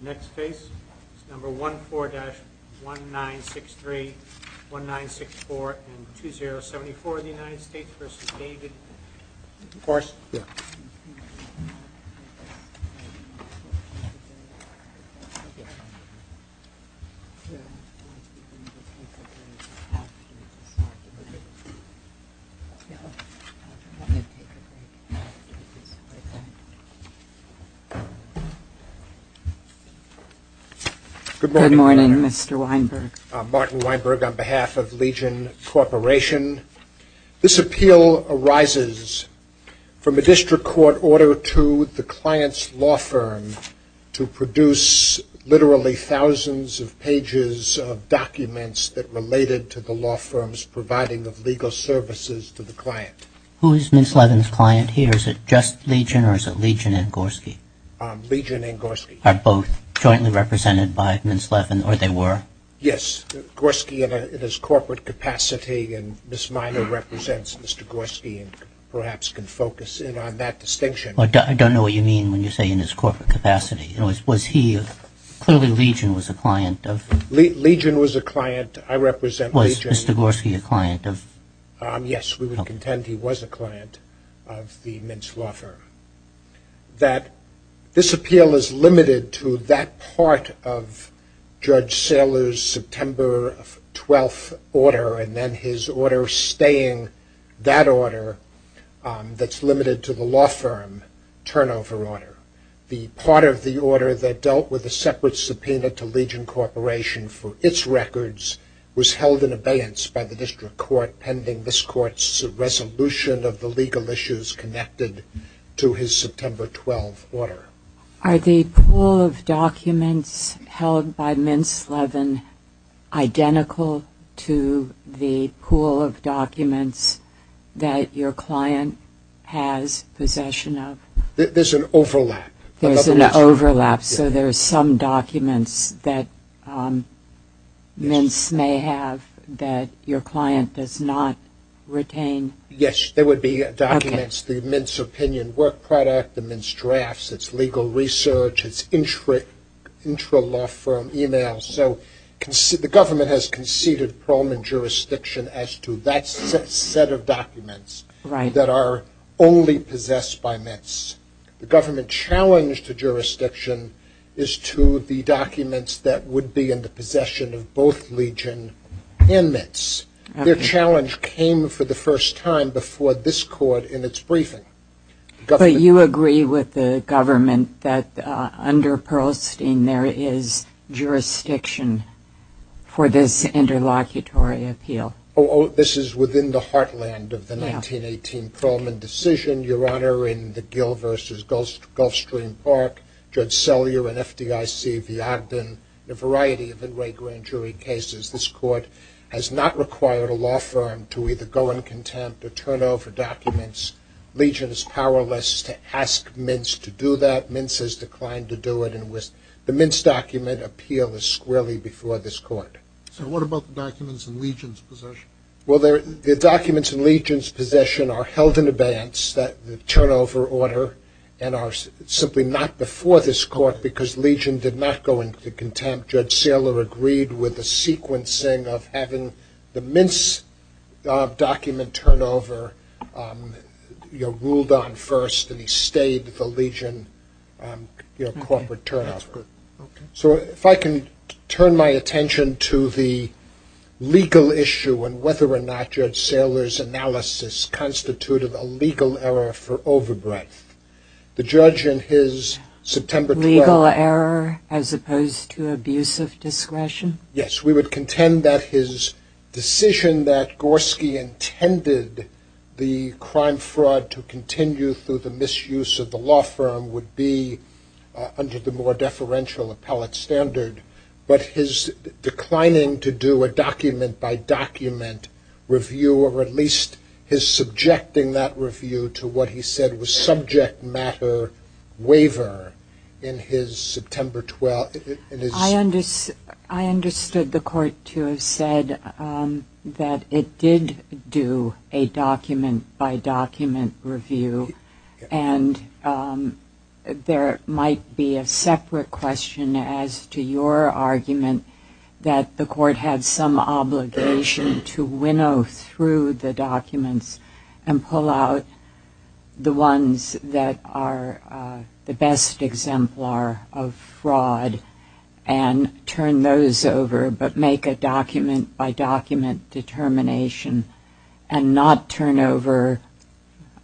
Next case is number 14-1963-1964 and 2074 of the United States v. David Gorski. Good morning, Mr. Weinberg. Martin Weinberg on behalf of Legion Corporation. This appeal arises from a district court order to the client's law firm to produce literally thousands of pages of documents that related to the law firm's providing of legal services to the client. Who is Ms. Levin's client here? Is it just Legion or is it Legion and Gorski? Legion and Gorski. Are both jointly represented by Ms. Levin or they were? Yes, Gorski in his corporate capacity and Ms. Minor represents Mr. Gorski and perhaps can focus in on that distinction. I don't know what you mean when you say in his corporate capacity. Was he, clearly Legion was a client of? Legion was a client, I represent Legion. Was Mr. Gorski a client of? Yes, we would contend he was a client of the Mintz law firm. That this appeal is limited to that part of Judge Saylor's September 12th order and then his order staying that order that's limited to the law firm turnover order. The part of the order that dealt with the separate subpoena to Legion Corporation for its records was held in abeyance by the district court pending this court's resolution of the legal issues connected to his September 12th order. Are the pool of documents held by Mintz Levin identical to the pool of documents that your client has possession of? There's an overlap. There's an overlap, so there's some documents that Mintz may have that your client does not retain? Yes, there would be documents, the Mintz opinion work product, the Mintz drafts, its legal research, its intralaw firm emails. The government has conceded Pearlman jurisdiction as to that set of documents that are only possessed by Mintz. The government challenge to jurisdiction is to the documents that would be in the possession of both Legion and Mintz. Their challenge came for the first time before this court in its briefing. But you agree with the government that under Pearlstein there is jurisdiction for this interlocutory appeal? Oh, this is within the heartland of the 1918 Pearlman decision. Your Honor, in the Gill v. Gulfstream Park, Judge Sellier and FDIC, the Ogden, a variety of great grand jury cases, this court has not required a law firm to either go in contempt or turn over documents. Legion is powerless to ask Mintz to do that. Mintz has declined to do it, and the Mintz document appeal is squarely before this court. So what about the documents in Legion's possession? Well, the documents in Legion's possession are held in abeyance, the turnover order, and are simply not before this court because Legion did not go into contempt. Judge Sellier agreed with the sequencing of having the Mintz document turnover ruled on first, and he stayed the Legion corporate turnover. So if I can turn my attention to the legal issue and whether or not Judge Sellier's analysis constituted a legal error for overbreadth. The judge in his September 12th... Legal error as opposed to abuse of discretion? Yes, we would contend that his decision that Gorski intended the crime fraud to continue through the misuse of the law firm would be under the more deferential appellate standard, but his declining to do a document-by-document review, or at least his subjecting that review to what he said was subject matter waiver in his September 12th... I understood the court to have said that it did do a document-by-document review, and there might be a separate question as to your argument that the court had some obligation to winnow through the documents and pull out the ones that are the best exemplar of fraud and turn those over, but make a document-by-document determination and not turn over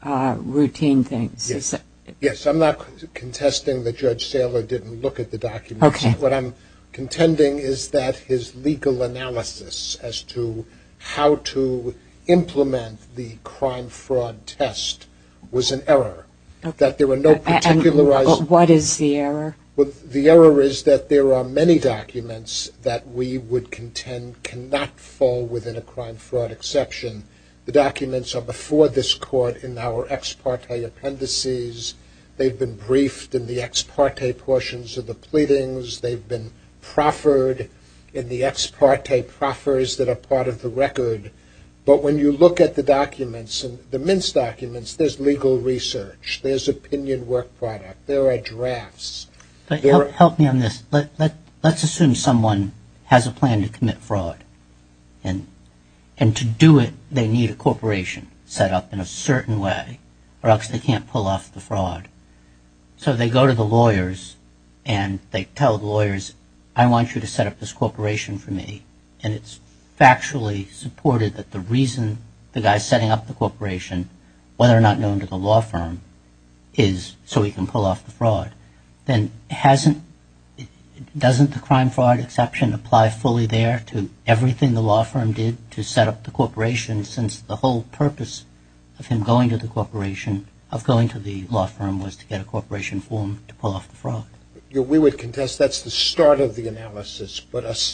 routine things. Yes, I'm not contesting that Judge Sellier didn't look at the documents. What I'm contending is that his legal analysis as to how to implement the crime fraud test was an error, that there were no particular... What is the error? The error is that there are many documents that we would contend cannot fall within a crime fraud exception. The documents are before this court in our ex parte appendices. They've been briefed in the ex parte portions of the pleadings. They've been proffered in the ex parte proffers that are part of the record. But when you look at the documents, the mince documents, there's legal research. There's opinion work product. There are drafts. Help me on this. Let's assume someone has a plan to commit fraud, and to do it they need a corporation set up in a certain way or else they can't pull off the fraud. So they go to the lawyers and they tell the lawyers, I want you to set up this corporation for me. And it's factually supported that the reason the guy's setting up the corporation, whether or not known to the law firm, is so he can pull off the fraud. Then doesn't the crime fraud exception apply fully there to everything the law firm did to set up the corporation since the whole purpose of him going to the corporation, of going to the law firm, was to get a corporation form to pull off the fraud? We would contest that's the start of the analysis.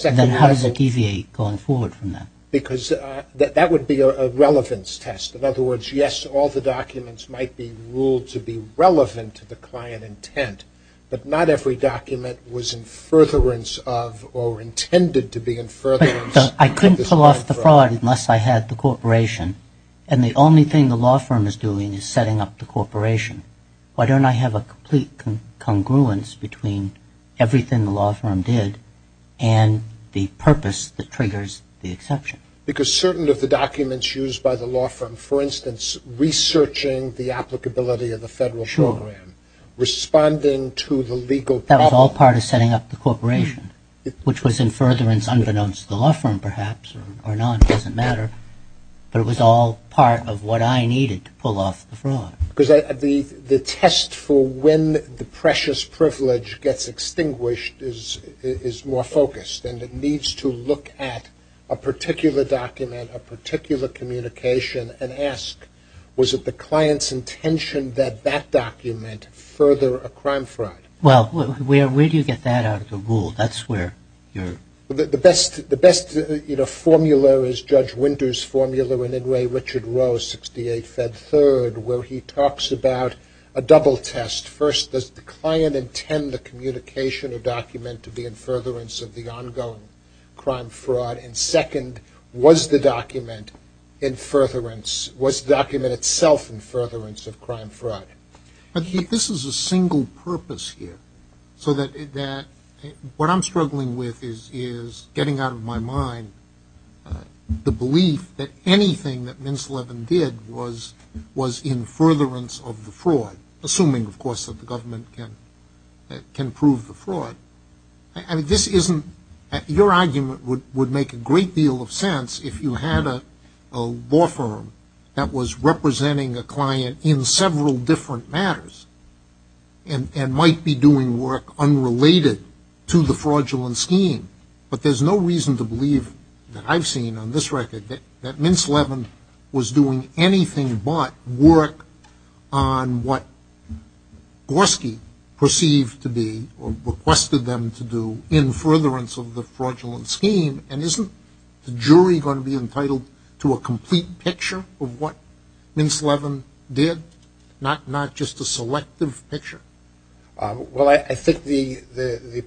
Then how does it deviate going forward from that? Because that would be a relevance test. In other words, yes, all the documents might be ruled to be relevant to the client intent, but not every document was in furtherance of or intended to be in furtherance. I couldn't pull off the fraud unless I had the corporation. And the only thing the law firm is doing is setting up the corporation. Why don't I have a complete congruence between everything the law firm did and the purpose that triggers the exception? Because certain of the documents used by the law firm, for instance, researching the applicability of the federal program, responding to the legal problem. It was all part of setting up the corporation, which was in furtherance unbeknownst to the law firm, perhaps, or none. It doesn't matter. But it was all part of what I needed to pull off the fraud. Because the test for when the precious privilege gets extinguished is more focused and it needs to look at a particular document, a particular communication, and ask, was it the client's intention that that document further a crime fraud? Well, where do you get that out of the rule? That's where you're... The best, you know, formula is Judge Winter's formula in Inouye Richard Roe, 68 Fed 3rd, where he talks about a double test. First, does the client intend the communication or document to be in furtherance of the ongoing crime fraud? And second, was the document in furtherance, was the document itself in furtherance of crime fraud? This is a single purpose here. So that what I'm struggling with is getting out of my mind the belief that anything that Mintz Levin did was in furtherance of the fraud, assuming, of course, that the government can prove the fraud. I mean, this isn't... Your argument would make a great deal of sense if you had a law firm that was representing a client in several different matters and might be doing work unrelated to the fraudulent scheme, but there's no reason to believe that I've seen on this record that Mintz Levin was doing anything but work on what Gorski perceived to be or requested them to do in furtherance of the fraudulent scheme, and isn't the jury going to be entitled to a complete picture of what Mintz Levin did, not just a selective picture? Well, I think the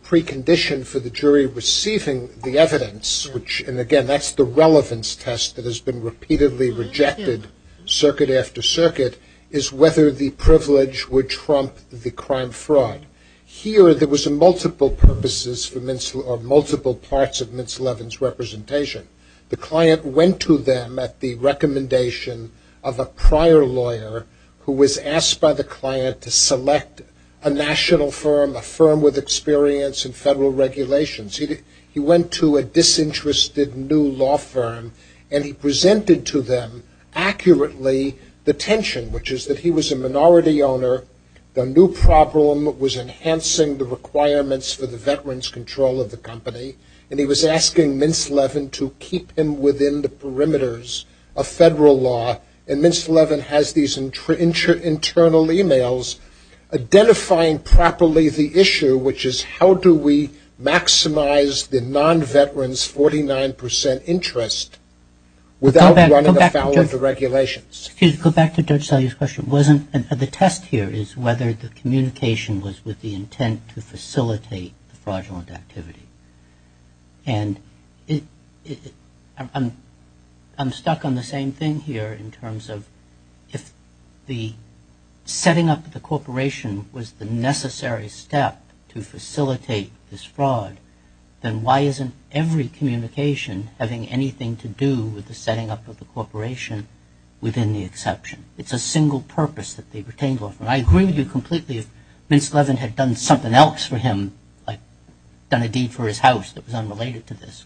precondition for the jury receiving the evidence, and again, that's the relevance test that has been repeatedly rejected circuit after circuit, is whether the privilege would trump the crime fraud. Here, there was multiple purposes or multiple parts of Mintz Levin's representation. The client went to them at the recommendation of a prior lawyer who was asked by the client to select a national firm, a firm with experience in federal regulations. He went to a disinterested new law firm, and he presented to them accurately the tension, which is that he was a minority owner, the new problem was enhancing the requirements for the veteran's control of the company, and he was asking Mintz Levin to keep him within the perimeters of federal law, and Mintz Levin has these internal emails identifying properly the issue, which is how do we maximize the non-veteran's 49 percent interest without running afoul of the regulations. Excuse me, go back to Judge Salyer's question. The test here is whether the communication was with the intent to facilitate the fraudulent activity, and I'm stuck on the same thing here in terms of if the setting up of the corporation was the necessary step to facilitate this fraud, then why isn't every communication having anything to do with the setting up of the corporation within the exception? It's a single purpose that the retained law firm, and I agree with you completely if Mintz Levin had done something else for him, like done a deed for his house that was unrelated to this,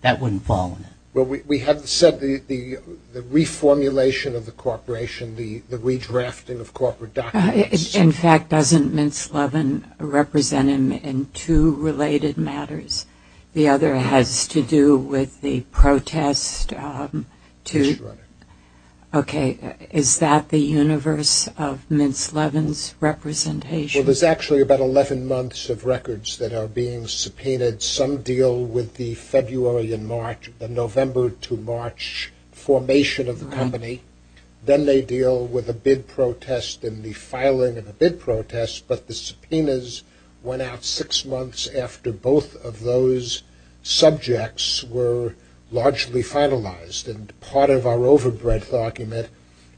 that wouldn't fall on him. Well, we have said the reformulation of the corporation, the redrafting of corporate documents. In fact, doesn't Mintz Levin represent him in two related matters? The other has to do with the protest. Yes, Your Honor. Okay, is that the universe of Mintz Levin's representation? Well, there's actually about 11 months of records that are being subpoenaed. Some deal with the February and March, the November to March formation of the company. Then they deal with a bid protest and the filing of a bid protest, but the subpoenas went out six months after both of those subjects were largely finalized, and part of our overbred document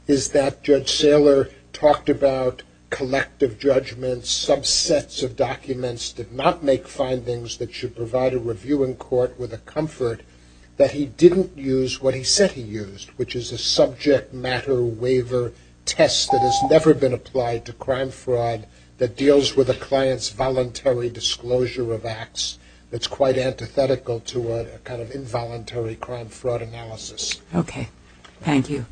is that Judge Saylor talked about collective judgments, subsets of documents did not make findings that should provide a review in court with a comfort that he didn't use what he said he used, which is a subject matter waiver test that has never been applied to crime fraud that deals with a client's voluntary disclosure of acts. It's quite antithetical to a kind of involuntary crime fraud analysis. Okay, thank you.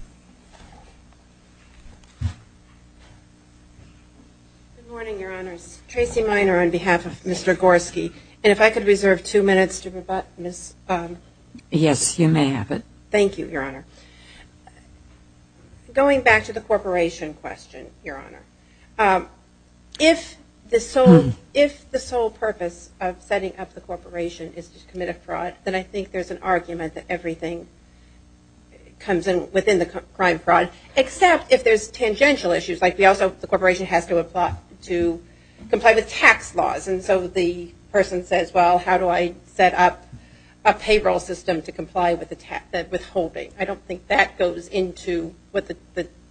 Good morning, Your Honors. Tracy Miner on behalf of Mr. Gorski, and if I could reserve two minutes to rebut Ms. Yes, you may have it. Thank you, Your Honor. Going back to the corporation question, Your Honor, if the sole purpose of setting up the corporation is to commit a fraud, then I think there's an argument that everything comes within the crime fraud, except if there's tangential issues, like the corporation has to comply with tax laws, and so the person says, well, how do I set up a payroll system to comply with the tax, that withholding. I don't think that goes into what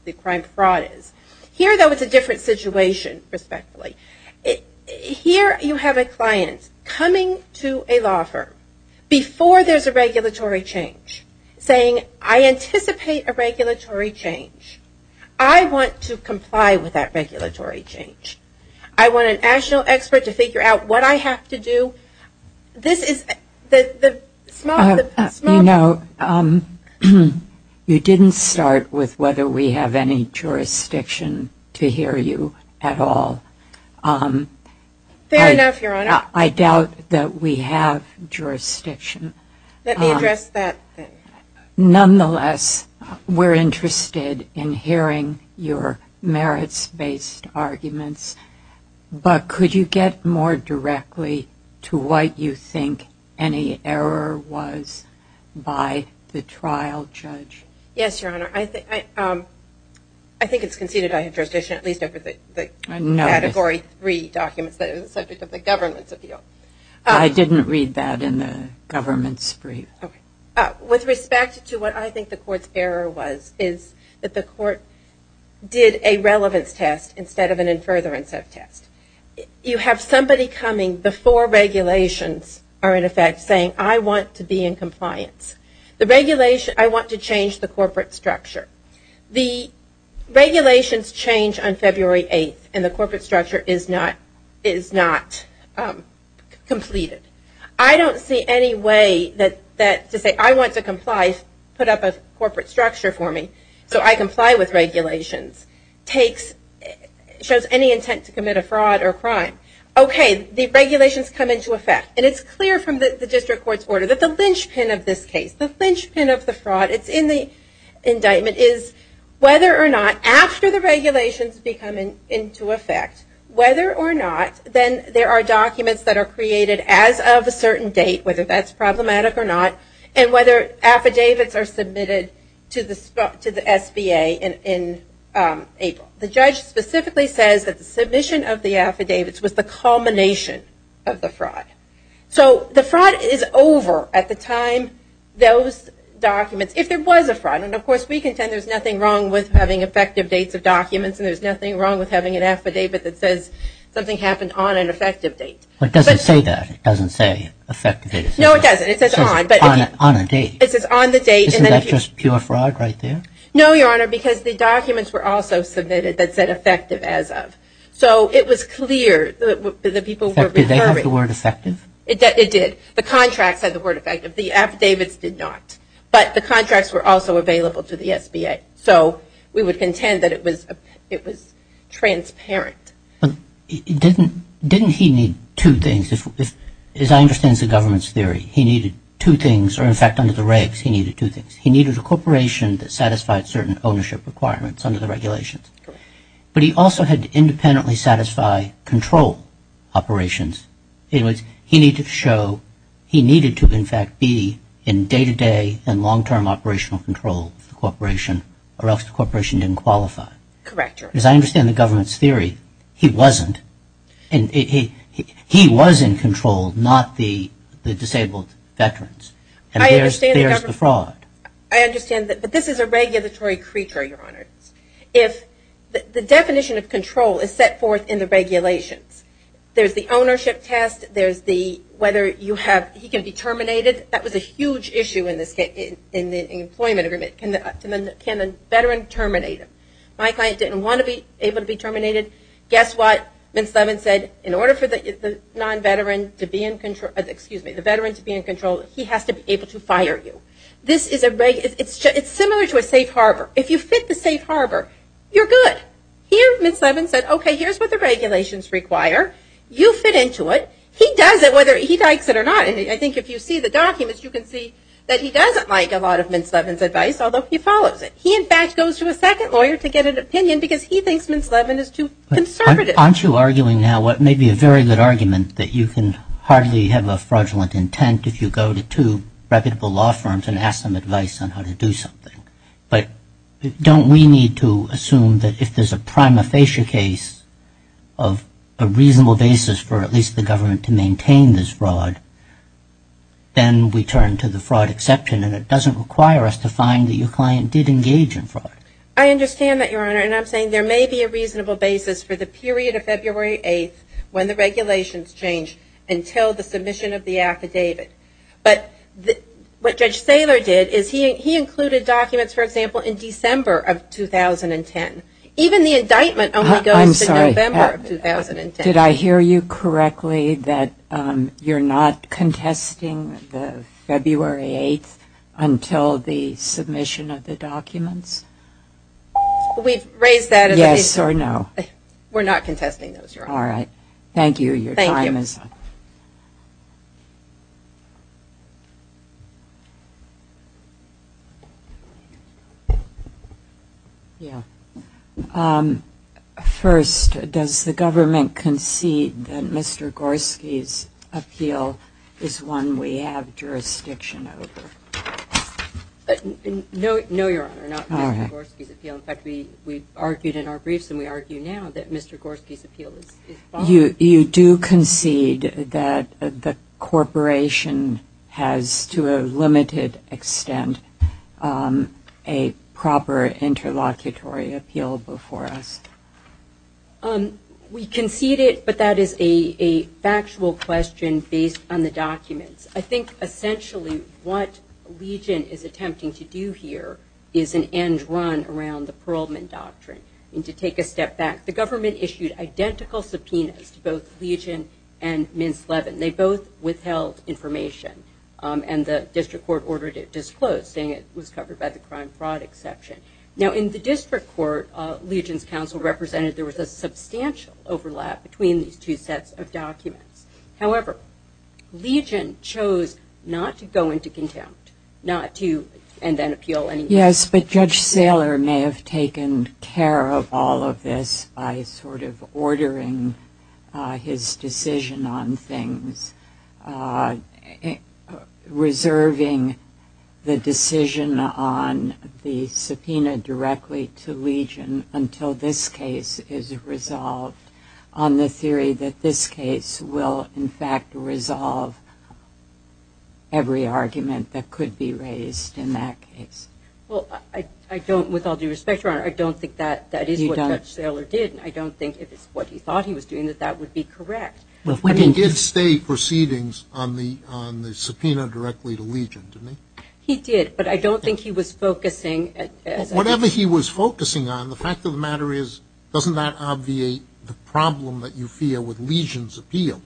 the crime fraud is. Here, though, it's a different situation, respectfully. Here you have a client coming to a law firm before there's a regulatory change, saying I anticipate a regulatory change. I want to comply with that regulatory change. I want a national expert to figure out what I have to do. You know, you didn't start with whether we have any jurisdiction to hear you at all. Fair enough, Your Honor. I doubt that we have jurisdiction. Let me address that then. Nonetheless, we're interested in hearing your merits-based arguments, but could you get more directly to what you think any error was by the trial judge? Yes, Your Honor. I think it's conceded I have jurisdiction at least over the Category 3 documents that are the subject of the government's appeal. I didn't read that in the government's brief. Okay. With respect to what I think the court's error was, is that the court did a relevance test instead of an in furtherance of test. You have somebody coming before regulations are in effect saying I want to be in compliance. I want to change the corporate structure. The regulations change on February 8th, and the corporate structure is not completed. I don't see any way that to say I want to comply put up a corporate structure for me so I comply with regulations. It shows any intent to commit a fraud or a crime. Okay, the regulations come into effect, and it's clear from the district court's order that the linchpin of this case, the linchpin of the fraud, it's in the indictment, is whether or not after the regulations become into effect, whether or not, then there are documents that are created as of a certain date, whether that's problematic or not, and whether affidavits are submitted to the SBA in April. The judge specifically says that the submission of the affidavits was the culmination of the fraud. So the fraud is over at the time those documents, if there was a fraud, and of course we contend there's nothing wrong with having effective dates of documents and there's nothing wrong with having an affidavit that says something happened on an effective date. But it doesn't say that. It doesn't say effective date. No, it doesn't. It says on. It says on a date. It says on the date. Isn't that just pure fraud right there? No, Your Honor, because the documents were also submitted that said effective as of. So it was clear that the people were referring. Did they have the word effective? It did. The contracts had the word effective. The affidavits did not, but the contracts were also available to the SBA. So we would contend that it was transparent. Didn't he need two things? As I understand the government's theory, he needed two things, or in fact under the regs he needed two things. He needed a corporation that satisfied certain ownership requirements under the regulations. Correct. But he also had to independently satisfy control operations. He needed to show, he needed to in fact be in day-to-day and long-term operational control of the corporation, or else the corporation didn't qualify. Correct, Your Honor. As I understand the government's theory, he wasn't. He was in control, not the disabled veterans. And there's the fraud. I understand, but this is a regulatory creature, Your Honor. If the definition of control is set forth in the regulations, there's the ownership test, there's the whether he can be terminated. That was a huge issue in the employment agreement. Can a veteran terminate him? My client didn't want to be able to be terminated. Guess what? Ms. Levin said, in order for the non-veteran to be in control, excuse me, the veteran to be in control, he has to be able to fire you. It's similar to a safe harbor. If you fit the safe harbor, you're good. Here, Ms. Levin said, okay, here's what the regulations require. You fit into it. He does it whether he likes it or not. And I think if you see the documents, you can see that he doesn't like a lot of Ms. Levin's advice, although he follows it. He, in fact, goes to a second lawyer to get an opinion because he thinks Ms. Levin is too conservative. Aren't you arguing now what may be a very good argument, that you can hardly have a fraudulent intent if you go to two reputable law firms and ask them advice on how to do something. But don't we need to assume that if there's a prima facie case of a reasonable basis for at least the government to maintain this fraud, then we turn to the fraud exception and it doesn't require us to find that your client did engage in fraud. I understand that, Your Honor. And I'm saying there may be a reasonable basis for the period of February 8th when the regulations change until the submission of the affidavit. But what Judge Saylor did is he included documents, for example, in December of 2010. Even the indictment only goes to November of 2010. I'm sorry. Did I hear you correctly that you're not contesting the February 8th until the submission of the documents? We've raised that. Yes or no? We're not contesting those, Your Honor. All right. Thank you. Thank you. Ms. Mazzano. Yeah. First, does the government concede that Mr. Gorski's appeal is one we have jurisdiction over? No, Your Honor, not Mr. Gorski's appeal. In fact, we've argued in our briefs and we argue now that Mr. Gorski's appeal is false. You do concede that the corporation has, to a limited extent, a proper interlocutory appeal before us? We concede it, but that is a factual question based on the documents. I think essentially what Legion is attempting to do here is an end run around the Perlman Doctrine. We need to take a step back. The government issued identical subpoenas to both Legion and Ms. Levin. They both withheld information, and the district court ordered it disclosed, saying it was covered by the crime-fraud exception. Now, in the district court, Legion's counsel represented there was a substantial overlap between these two sets of documents. However, Legion chose not to go into contempt and then appeal anyway. Yes, but Judge Saylor may have taken care of all of this by sort of ordering his decision on things, reserving the decision on the subpoena directly to Legion until this case is resolved, on the theory that this case will, in fact, resolve every argument that could be raised in that case. Well, I don't, with all due respect, Your Honor, I don't think that is what Judge Saylor did. I don't think if it's what he thought he was doing that that would be correct. But he did state proceedings on the subpoena directly to Legion, didn't he? He did, but I don't think he was focusing. Whatever he was focusing on, the fact of the matter is, doesn't that obviate the problem that you feel with Legion's appeal?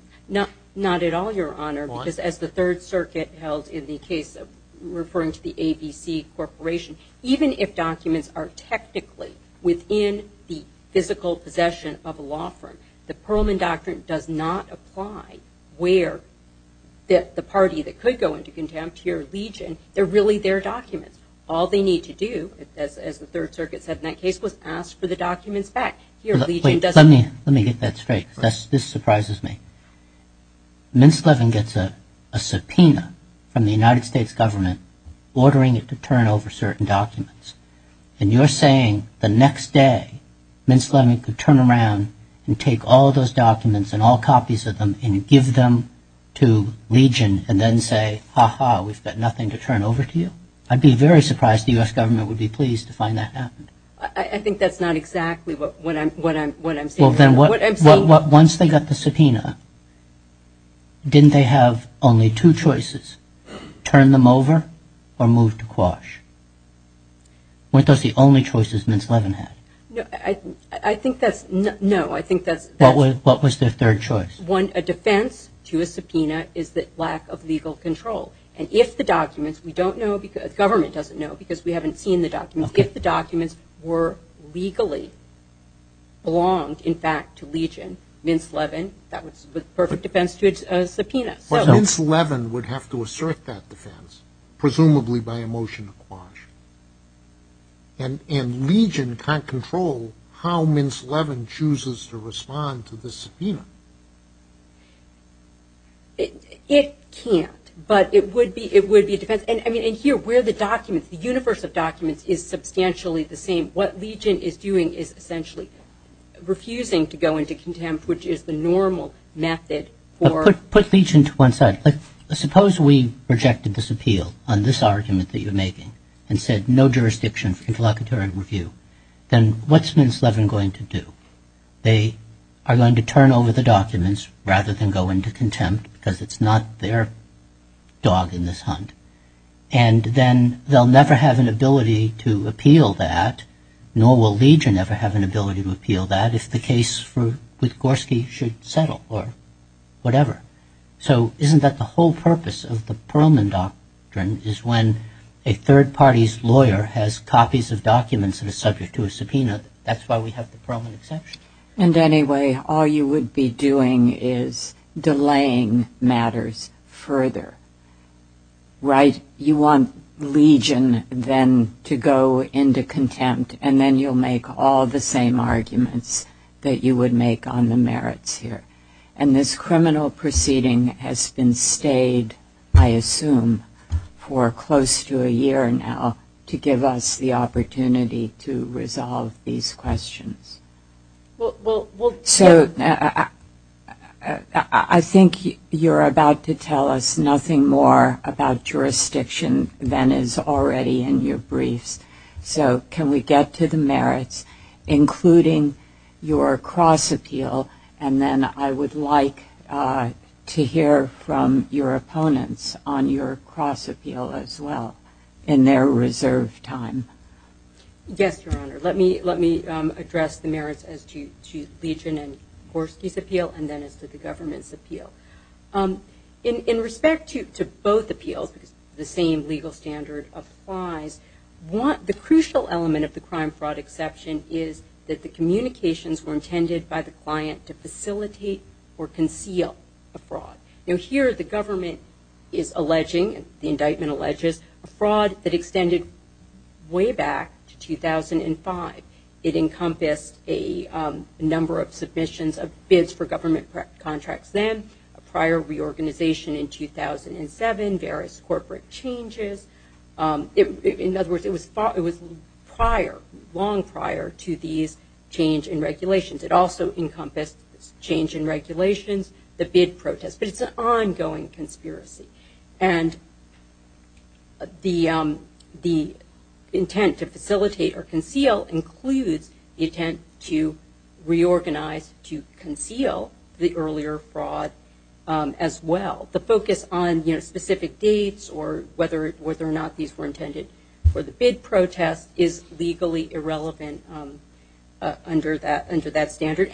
Not at all, Your Honor, because as the Third Circuit held in the case of referring to the ABC Corporation, even if documents are technically within the physical possession of a law firm, the Perlman Doctrine does not apply where the party that could go into contempt here, Legion, they're really their documents. All they need to do, as the Third Circuit said in that case, was ask for the documents back. Wait, let me get that straight because this surprises me. Mintz-Levin gets a subpoena from the United States government ordering it to turn over certain documents, and you're saying the next day Mintz-Levin could turn around and take all those documents and all copies of them and give them to Legion and then say, ha-ha, we've got nothing to turn over to you? I'd be very surprised the U.S. government would be pleased to find that happened. I think that's not exactly what I'm saying. Well, then, once they got the subpoena, didn't they have only two choices, turn them over or move to Quash? Weren't those the only choices Mintz-Levin had? No, I think that's – no, I think that's – What was their third choice? One, a defense to a subpoena is the lack of legal control. And if the documents – we don't know because – government doesn't know because we haven't seen the documents. If the documents were legally – belonged, in fact, to Legion, Mintz-Levin, that was the perfect defense to a subpoena. But Mintz-Levin would have to assert that defense, presumably by a motion to Quash. And Legion can't control how Mintz-Levin chooses to respond to the subpoena. It can't, but it would be a defense. And here, where the documents, the universe of documents is substantially the same, what Legion is doing is essentially refusing to go into contempt, which is the normal method for – Put Legion to one side. Like, suppose we rejected this appeal on this argument that you're making, and said no jurisdiction for interlocutory review. Then what's Mintz-Levin going to do? They are going to turn over the documents, rather than go into contempt, because it's not their dog in this hunt. And then they'll never have an ability to appeal that, nor will Legion ever have an ability to appeal that, if the case with Gorski should settle, or whatever. So, isn't that the whole purpose of the Perlman Doctrine, is when a third party's lawyer has copies of documents that are subject to a subpoena, that's why we have the Perlman exception? And anyway, all you would be doing is delaying matters further. Right? You want Legion then to go into contempt, and then you'll make all the same arguments that you would make on the merits here. And this criminal proceeding has been stayed, I assume, for close to a year now, to give us the opportunity to resolve these questions. So, I think you're about to tell us nothing more about jurisdiction than is already in your briefs. So, can we get to the merits, including your cross-appeal, and then I would like to hear from your opponents on your cross-appeal as well, in their reserved time. Yes, Your Honor. Let me address the merits as to Legion and Gorski's appeal, and then as to the government's appeal. In respect to both appeals, because the same legal standard applies, the crucial element of the crime-fraud exception is that the communications were intended by the client to facilitate or conceal a fraud. Now, here the government is alleging, the indictment alleges, a fraud that extended way back to 2005. It encompassed a number of submissions of bids for government contracts then, a prior reorganization in 2007, various corporate changes. In other words, it was prior, long prior to these change in regulations. It also encompassed change in regulations, the bid protest, but it's an ongoing conspiracy. And the intent to facilitate or conceal includes the intent to reorganize, to conceal the earlier fraud as well. The focus on specific dates or whether or not these were intended for the bid protest is legally irrelevant under that standard.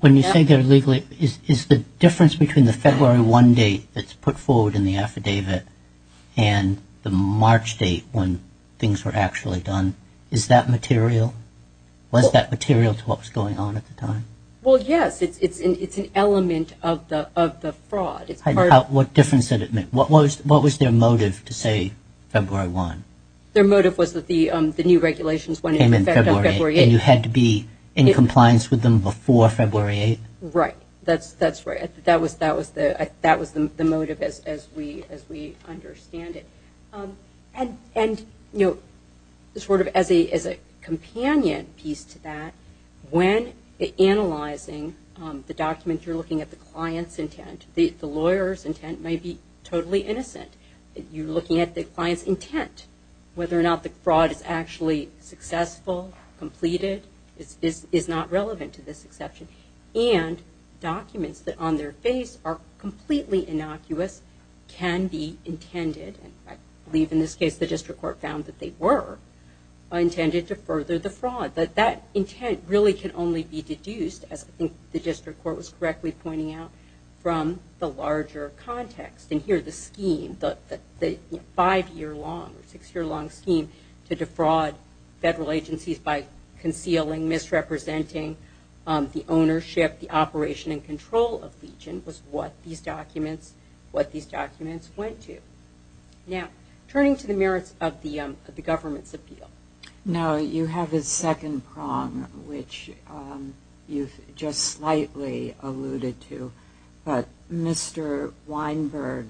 When you say they're legally, is the difference between the February 1 date that's put forward in the affidavit and the March date when things were actually done, is that material? Was that material to what was going on at the time? Well, yes. It's an element of the fraud. What difference did it make? What was their motive to say February 1? Their motive was that the new regulations went into effect on February 8. And you had to be in compliance with them before February 8? Right. That's right. That was the motive as we understand it. And sort of as a companion piece to that, when analyzing the document you're looking at the client's intent, the lawyer's intent may be totally innocent. You're looking at the client's intent. Whether or not the fraud is actually successful, completed, is not relevant to this exception. And documents that on their face are completely innocuous can be intended, and I believe in this case the district court found that they were, intended to further the fraud. But that intent really can only be deduced, as I think the district court was correctly pointing out, from the larger context. And here the scheme, the five-year long or six-year long scheme to defraud federal agencies by concealing, misrepresenting the ownership, the operation, and control of Legion was what these documents went to. Now, turning to the merits of the government's appeal. Now, you have a second prong, which you've just slightly alluded to. But Mr. Weinberg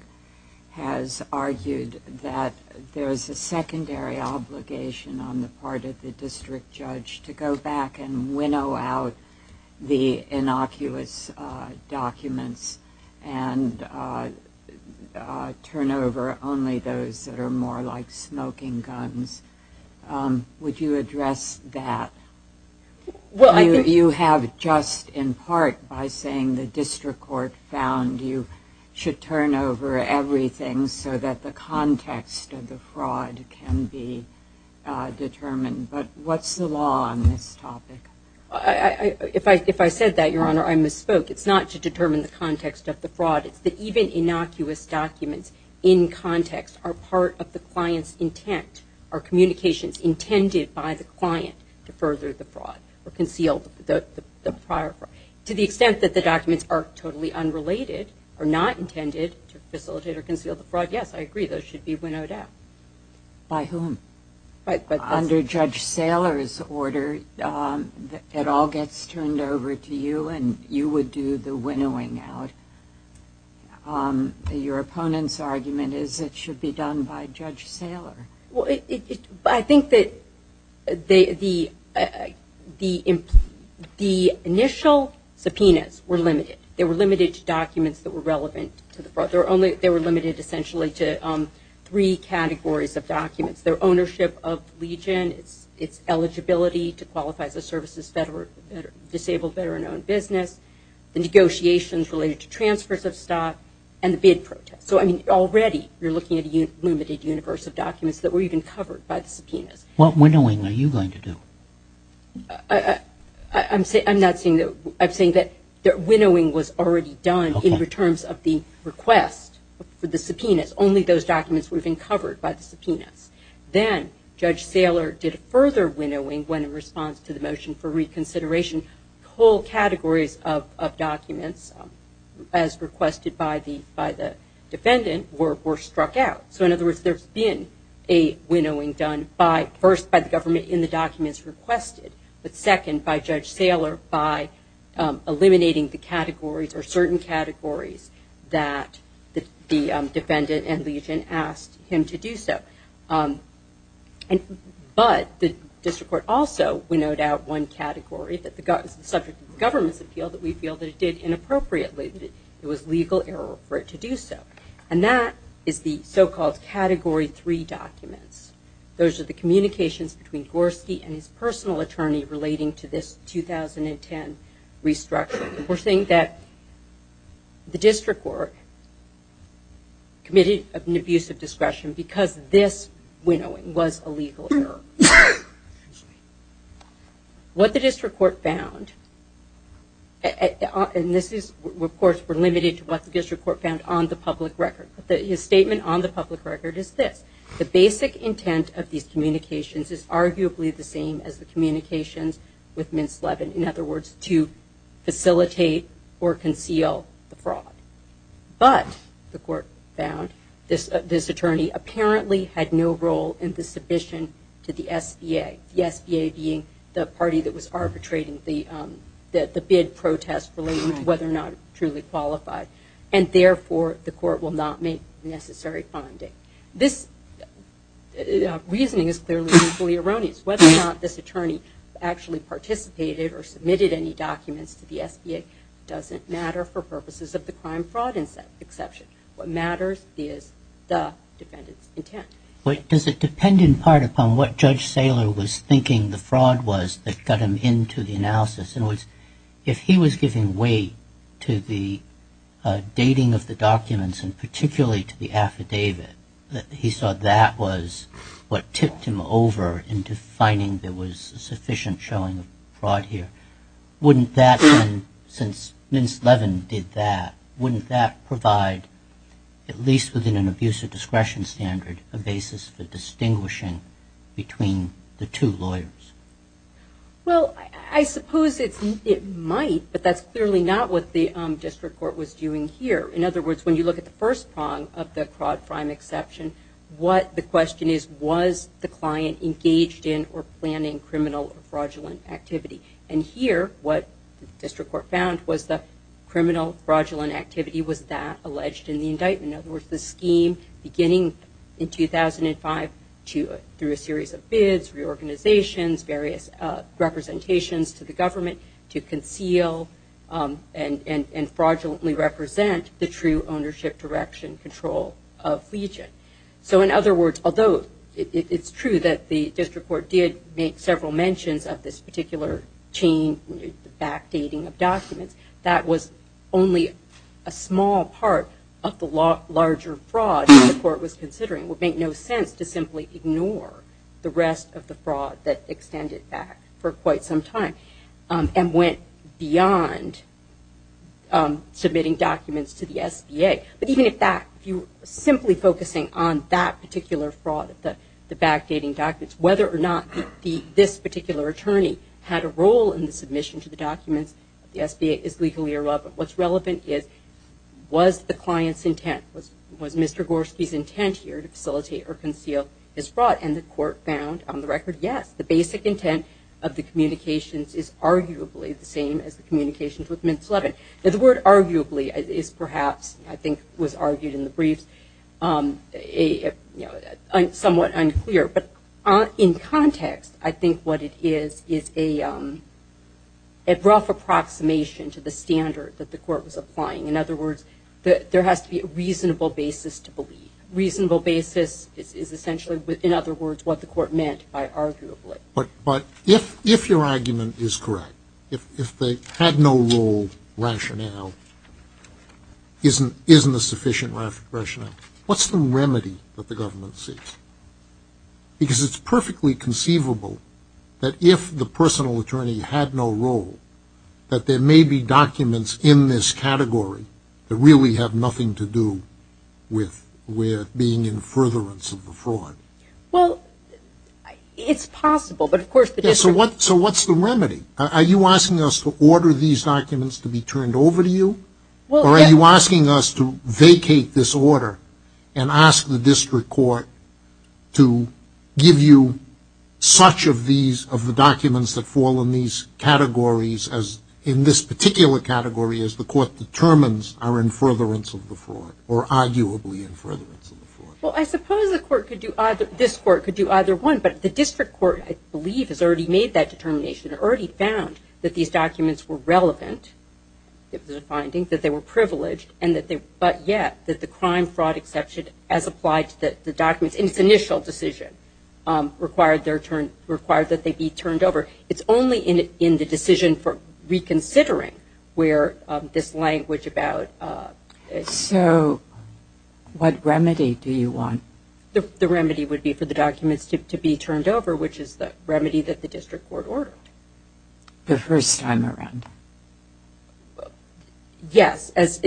has argued that there is a secondary obligation on the part of the district judge to go back and winnow out the innocuous documents and turn over only those that are more like smoking guns. Would you address that? You have just in part by saying the district court found you should turn over everything so that the context of the fraud can be determined. But what's the law on this topic? If I said that, Your Honor, I misspoke. It's not to determine the context of the fraud. It's that even innocuous documents in context are part of the client's intent or communications intended by the client to further the fraud or conceal the prior fraud. To the extent that the documents are totally unrelated, are not intended to facilitate or conceal the fraud, yes, I agree, those should be winnowed out. By whom? Under Judge Saylor's order, it all gets turned over to you and you would do the winnowing out. Your opponent's argument is it should be done by Judge Saylor. I think that the initial subpoenas were limited. They were limited to documents that were relevant to the fraud. They were limited essentially to three categories of documents, their ownership of Legion, its eligibility to qualify as a services disabled veteran-owned business, the negotiations related to transfers of stock, and the bid protest. So, I mean, already you're looking at a limited universe of documents that were even covered by the subpoenas. What winnowing are you going to do? I'm not saying that. I'm saying that winnowing was already done in terms of the request for the subpoenas. Only those documents were being covered by the subpoenas. Then Judge Saylor did further winnowing when in response to the motion for reconsideration. Whole categories of documents, as requested by the defendant, were struck out. So, in other words, there's been a winnowing done first by the government in the documents requested, but second by Judge Saylor by eliminating the categories or certain categories that the defendant and Legion asked him to do so. But the district court also winnowed out one category, the subject of the government's appeal that we feel that it did inappropriately, that it was legal error for it to do so. And that is the so-called Category 3 documents. Those are the communications between Gorski and his personal attorney relating to this 2010 restructuring. We're saying that the district court committed an abuse of discretion because this winnowing was a legal error. What the district court found, and these reports were limited to what the district court found on the public record, but his statement on the public record is this. The basic intent of these communications is arguably the same as the communications with Mintz-Levin. In other words, to facilitate or conceal the fraud. But, the court found, this attorney apparently had no role in the submission to the SBA, the SBA being the party that was arbitrating the bid protest relating to whether or not it truly qualified. And therefore, the court will not make necessary funding. This reasoning is clearly equally erroneous. Whether or not this attorney actually participated or submitted any documents to the SBA doesn't matter for purposes of the crime-fraud exception. What matters is the defendant's intent. Does it depend in part upon what Judge Saylor was thinking the fraud was that got him into the analysis? In other words, if he was giving way to the dating of the documents and particularly to the affidavit, that he thought that was what tipped him over into finding there was sufficient showing of fraud here, wouldn't that then, since Mintz-Levin did that, wouldn't that provide, at least within an abuse of discretion standard, a basis for distinguishing between the two lawyers? Well, I suppose it might, but that's clearly not what the district court was doing here. In other words, when you look at the first prong of the fraud-fraud exception, what the question is, was the client engaged in or planning criminal or fraudulent activity? And here, what the district court found was the criminal fraudulent activity was that alleged in the indictment. In other words, the scheme beginning in 2005 through a series of bids, reorganizations, various representations to the government to conceal and fraudulently represent the true ownership, direction, control of Legion. So in other words, although it's true that the district court did make several mentions of this particular chain, the backdating of documents, that was only a small part of the larger fraud that the court was considering. It would make no sense to simply ignore the rest of the fraud that extended back for quite some time and went beyond submitting documents to the SBA. But even if that, simply focusing on that particular fraud, the backdating documents, whether or not this particular attorney had a role in the submission to the documents, the SBA is legally irrelevant. What's relevant is, was the client's intent, was Mr. Gorski's intent here to facilitate or conceal his fraud? And the court found, on the record, yes. The basic intent of the communications is arguably the same as the communications with Mint 11. The word arguably is perhaps, I think was argued in the briefs, somewhat unclear. But in context, I think what it is is a rough approximation to the standard that the court was applying. In other words, there has to be a reasonable basis to believe. A reasonable basis is essentially, in other words, what the court meant by arguably. But if your argument is correct, if they had no role rationale, isn't a sufficient rationale, what's the remedy that the government seeks? Because it's perfectly conceivable that if the personal attorney had no role, that there may be documents in this category that really have nothing to do with being in furtherance of the fraud. Well, it's possible, but of course the difference. So what's the remedy? Are you asking us to order these documents to be turned over to you? Or are you asking us to vacate this order and ask the district court to give you such of these, of the documents that fall in these categories, in this particular category, as the court determines are in furtherance of the fraud, or arguably in furtherance of the fraud? Well, I suppose this court could do either one. But the district court, I believe, has already made that determination, already found that these documents were relevant, that they were finding, that they were privileged, but yet that the crime fraud exception, as applied to the documents in its initial decision, required that they be turned over. It's only in the decision for reconsidering where this language about ‑‑ So what remedy do you want? The remedy would be for the documents to be turned over, which is the remedy that the district court ordered. The first time around? Yes, as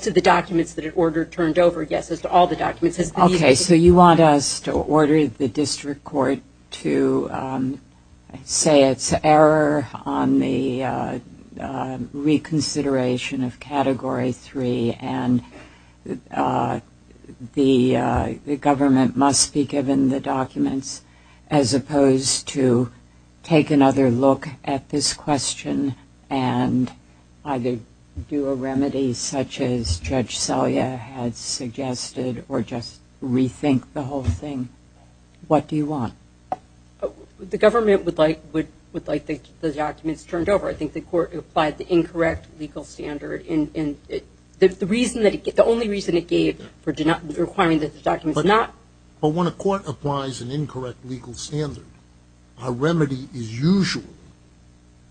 to the documents that it ordered turned over, yes, as to all the documents. Okay, so you want us to order the district court to say it's error on the reconsideration of Category 3 and the government must be given the documents as opposed to take another look at this question and either do a remedy such as Judge Salia had suggested or just rethink the whole thing. What do you want? The government would like the documents turned over. I think the court applied the incorrect legal standard. The only reason it gave for requiring that the documents not ‑‑ But when a court applies an incorrect legal standard, a remedy is usually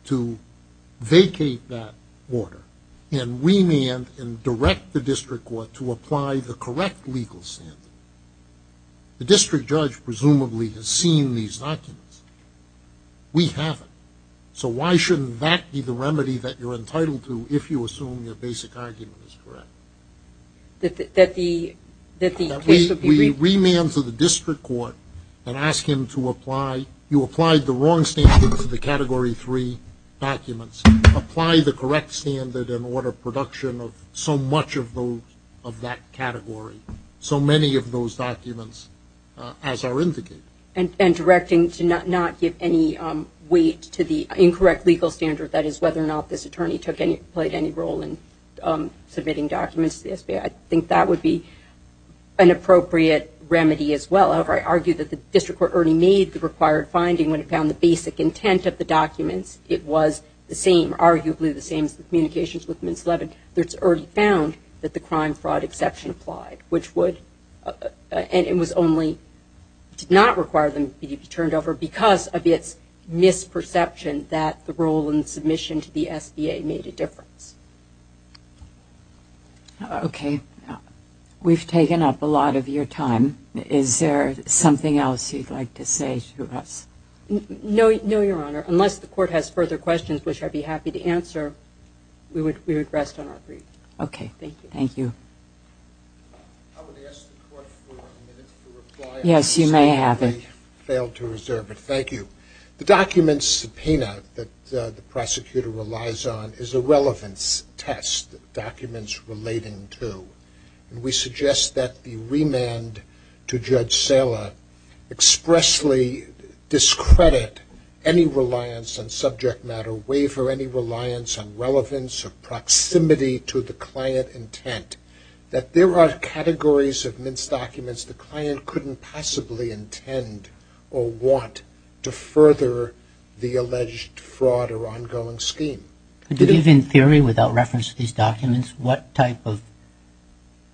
to vacate that order and remand and direct the district court to apply the correct legal standard. The district judge presumably has seen these documents. We haven't. So why shouldn't that be the remedy that you're entitled to if you assume your basic argument is correct? That the case would be ‑‑ That we remand to the district court and ask him to apply, you applied the wrong standard to the Category 3 documents, apply the correct standard and order production of so much of that category, so many of those documents as are indicated. And directing to not give any weight to the incorrect legal standard, that is whether or not this attorney played any role in submitting documents to the SBA. I think that would be an appropriate remedy as well. However, I argue that the district court already made the required finding when it found the basic intent of the documents. It was the same, arguably the same as the communications with Ms. Levin. It's already found that the crime fraud exception applied, which would, and it was only, did not require them to be turned over because of its misperception that the role in submission to the SBA made a difference. Okay. We've taken up a lot of your time. Is there something else you'd like to say to us? No, Your Honor. Unless the court has further questions, which I'd be happy to answer, we would rest on our feet. Okay. Thank you. I would ask the court for a minute to reply. Yes, you may have it. I failed to reserve it. Thank you. The document subpoena that the prosecutor relies on is a relevance test, documents relating to. And we suggest that the remand to Judge Sala expressly discredit any reliance on subject matter, or waver any reliance on relevance or proximity to the client intent, that there are categories of mince documents the client couldn't possibly intend or want to further the alleged fraud or ongoing scheme. Could you give in theory, without reference to these documents, what type of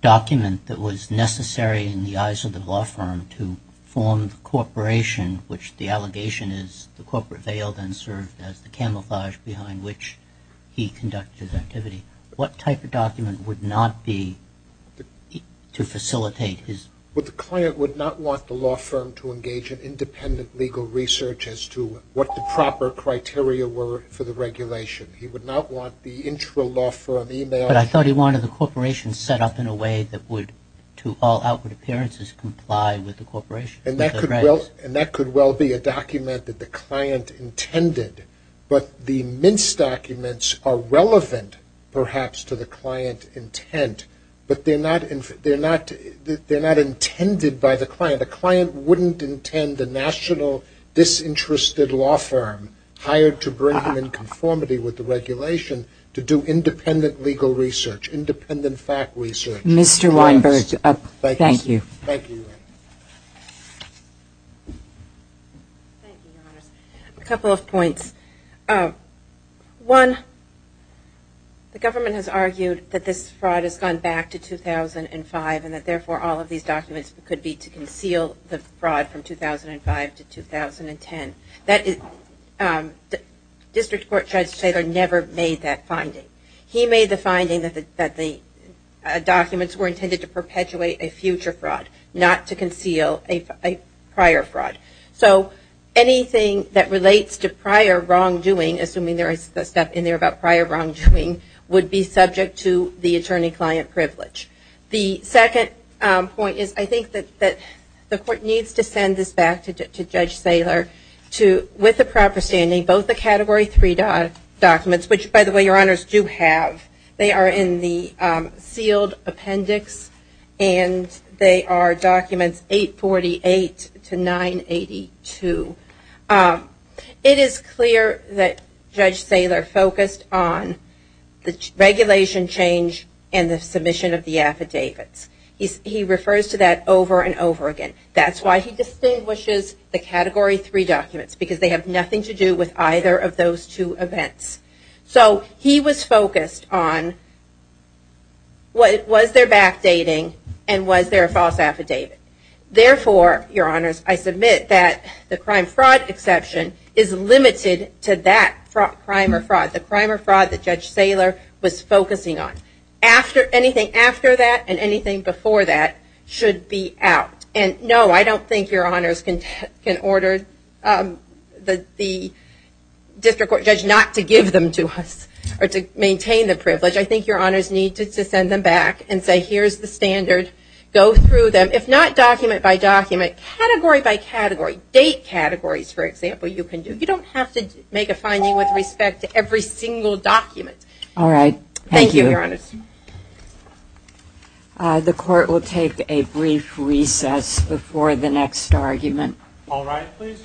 document that was necessary in the eyes of the law firm to form the corporation, which the allegation is the corporate veiled and served as the camouflage behind which he conducted activity? What type of document would not be to facilitate his? Well, the client would not want the law firm to engage in independent legal research as to what the proper criteria were for the regulation. He would not want the intralaw firm email. But I thought he wanted the corporation set up in a way that would, to all outward appearances, comply with the corporation. And that could well be a document that the client intended. But the mince documents are relevant, perhaps, to the client intent. But they're not intended by the client. The client wouldn't intend the national disinterested law firm hired to bring him in conformity with the regulation to do independent legal research, independent fact research. Mr. Weinberg, thank you. Thank you, Your Honors. A couple of points. One, the government has argued that this fraud has gone back to 2005 and that therefore all of these documents could be to conceal the fraud from 2005 to 2010. District Court Judge Taylor never made that finding. He made the finding that the documents were intended to perpetuate a future fraud. Not to conceal a prior fraud. So anything that relates to prior wrongdoing, assuming there is stuff in there about prior wrongdoing, would be subject to the attorney-client privilege. The second point is I think that the court needs to send this back to Judge Saylor with the proper standing, both the Category 3 documents, which, by the way, Your Honors, do have. They are in the sealed appendix and they are documents 848 to 982. It is clear that Judge Saylor focused on the regulation change and the submission of the affidavits. He refers to that over and over again. That's why he distinguishes the Category 3 documents, because they have nothing to do with either of those two events. So he was focused on was there backdating and was there a false affidavit. Therefore, Your Honors, I submit that the crime fraud exception is limited to that crime or fraud. The crime or fraud that Judge Saylor was focusing on. Anything after that and anything before that should be out. No, I don't think Your Honors can order the district court judge not to give them to us or to maintain the privilege. I think Your Honors need to send them back and say here is the standard. Go through them. If not document by document, category by category, date categories, for example, you can do. You don't have to make a finding with respect to every single document. All right. Thank you, Your Honors. The court will take a brief recess before the next argument. All rise, please.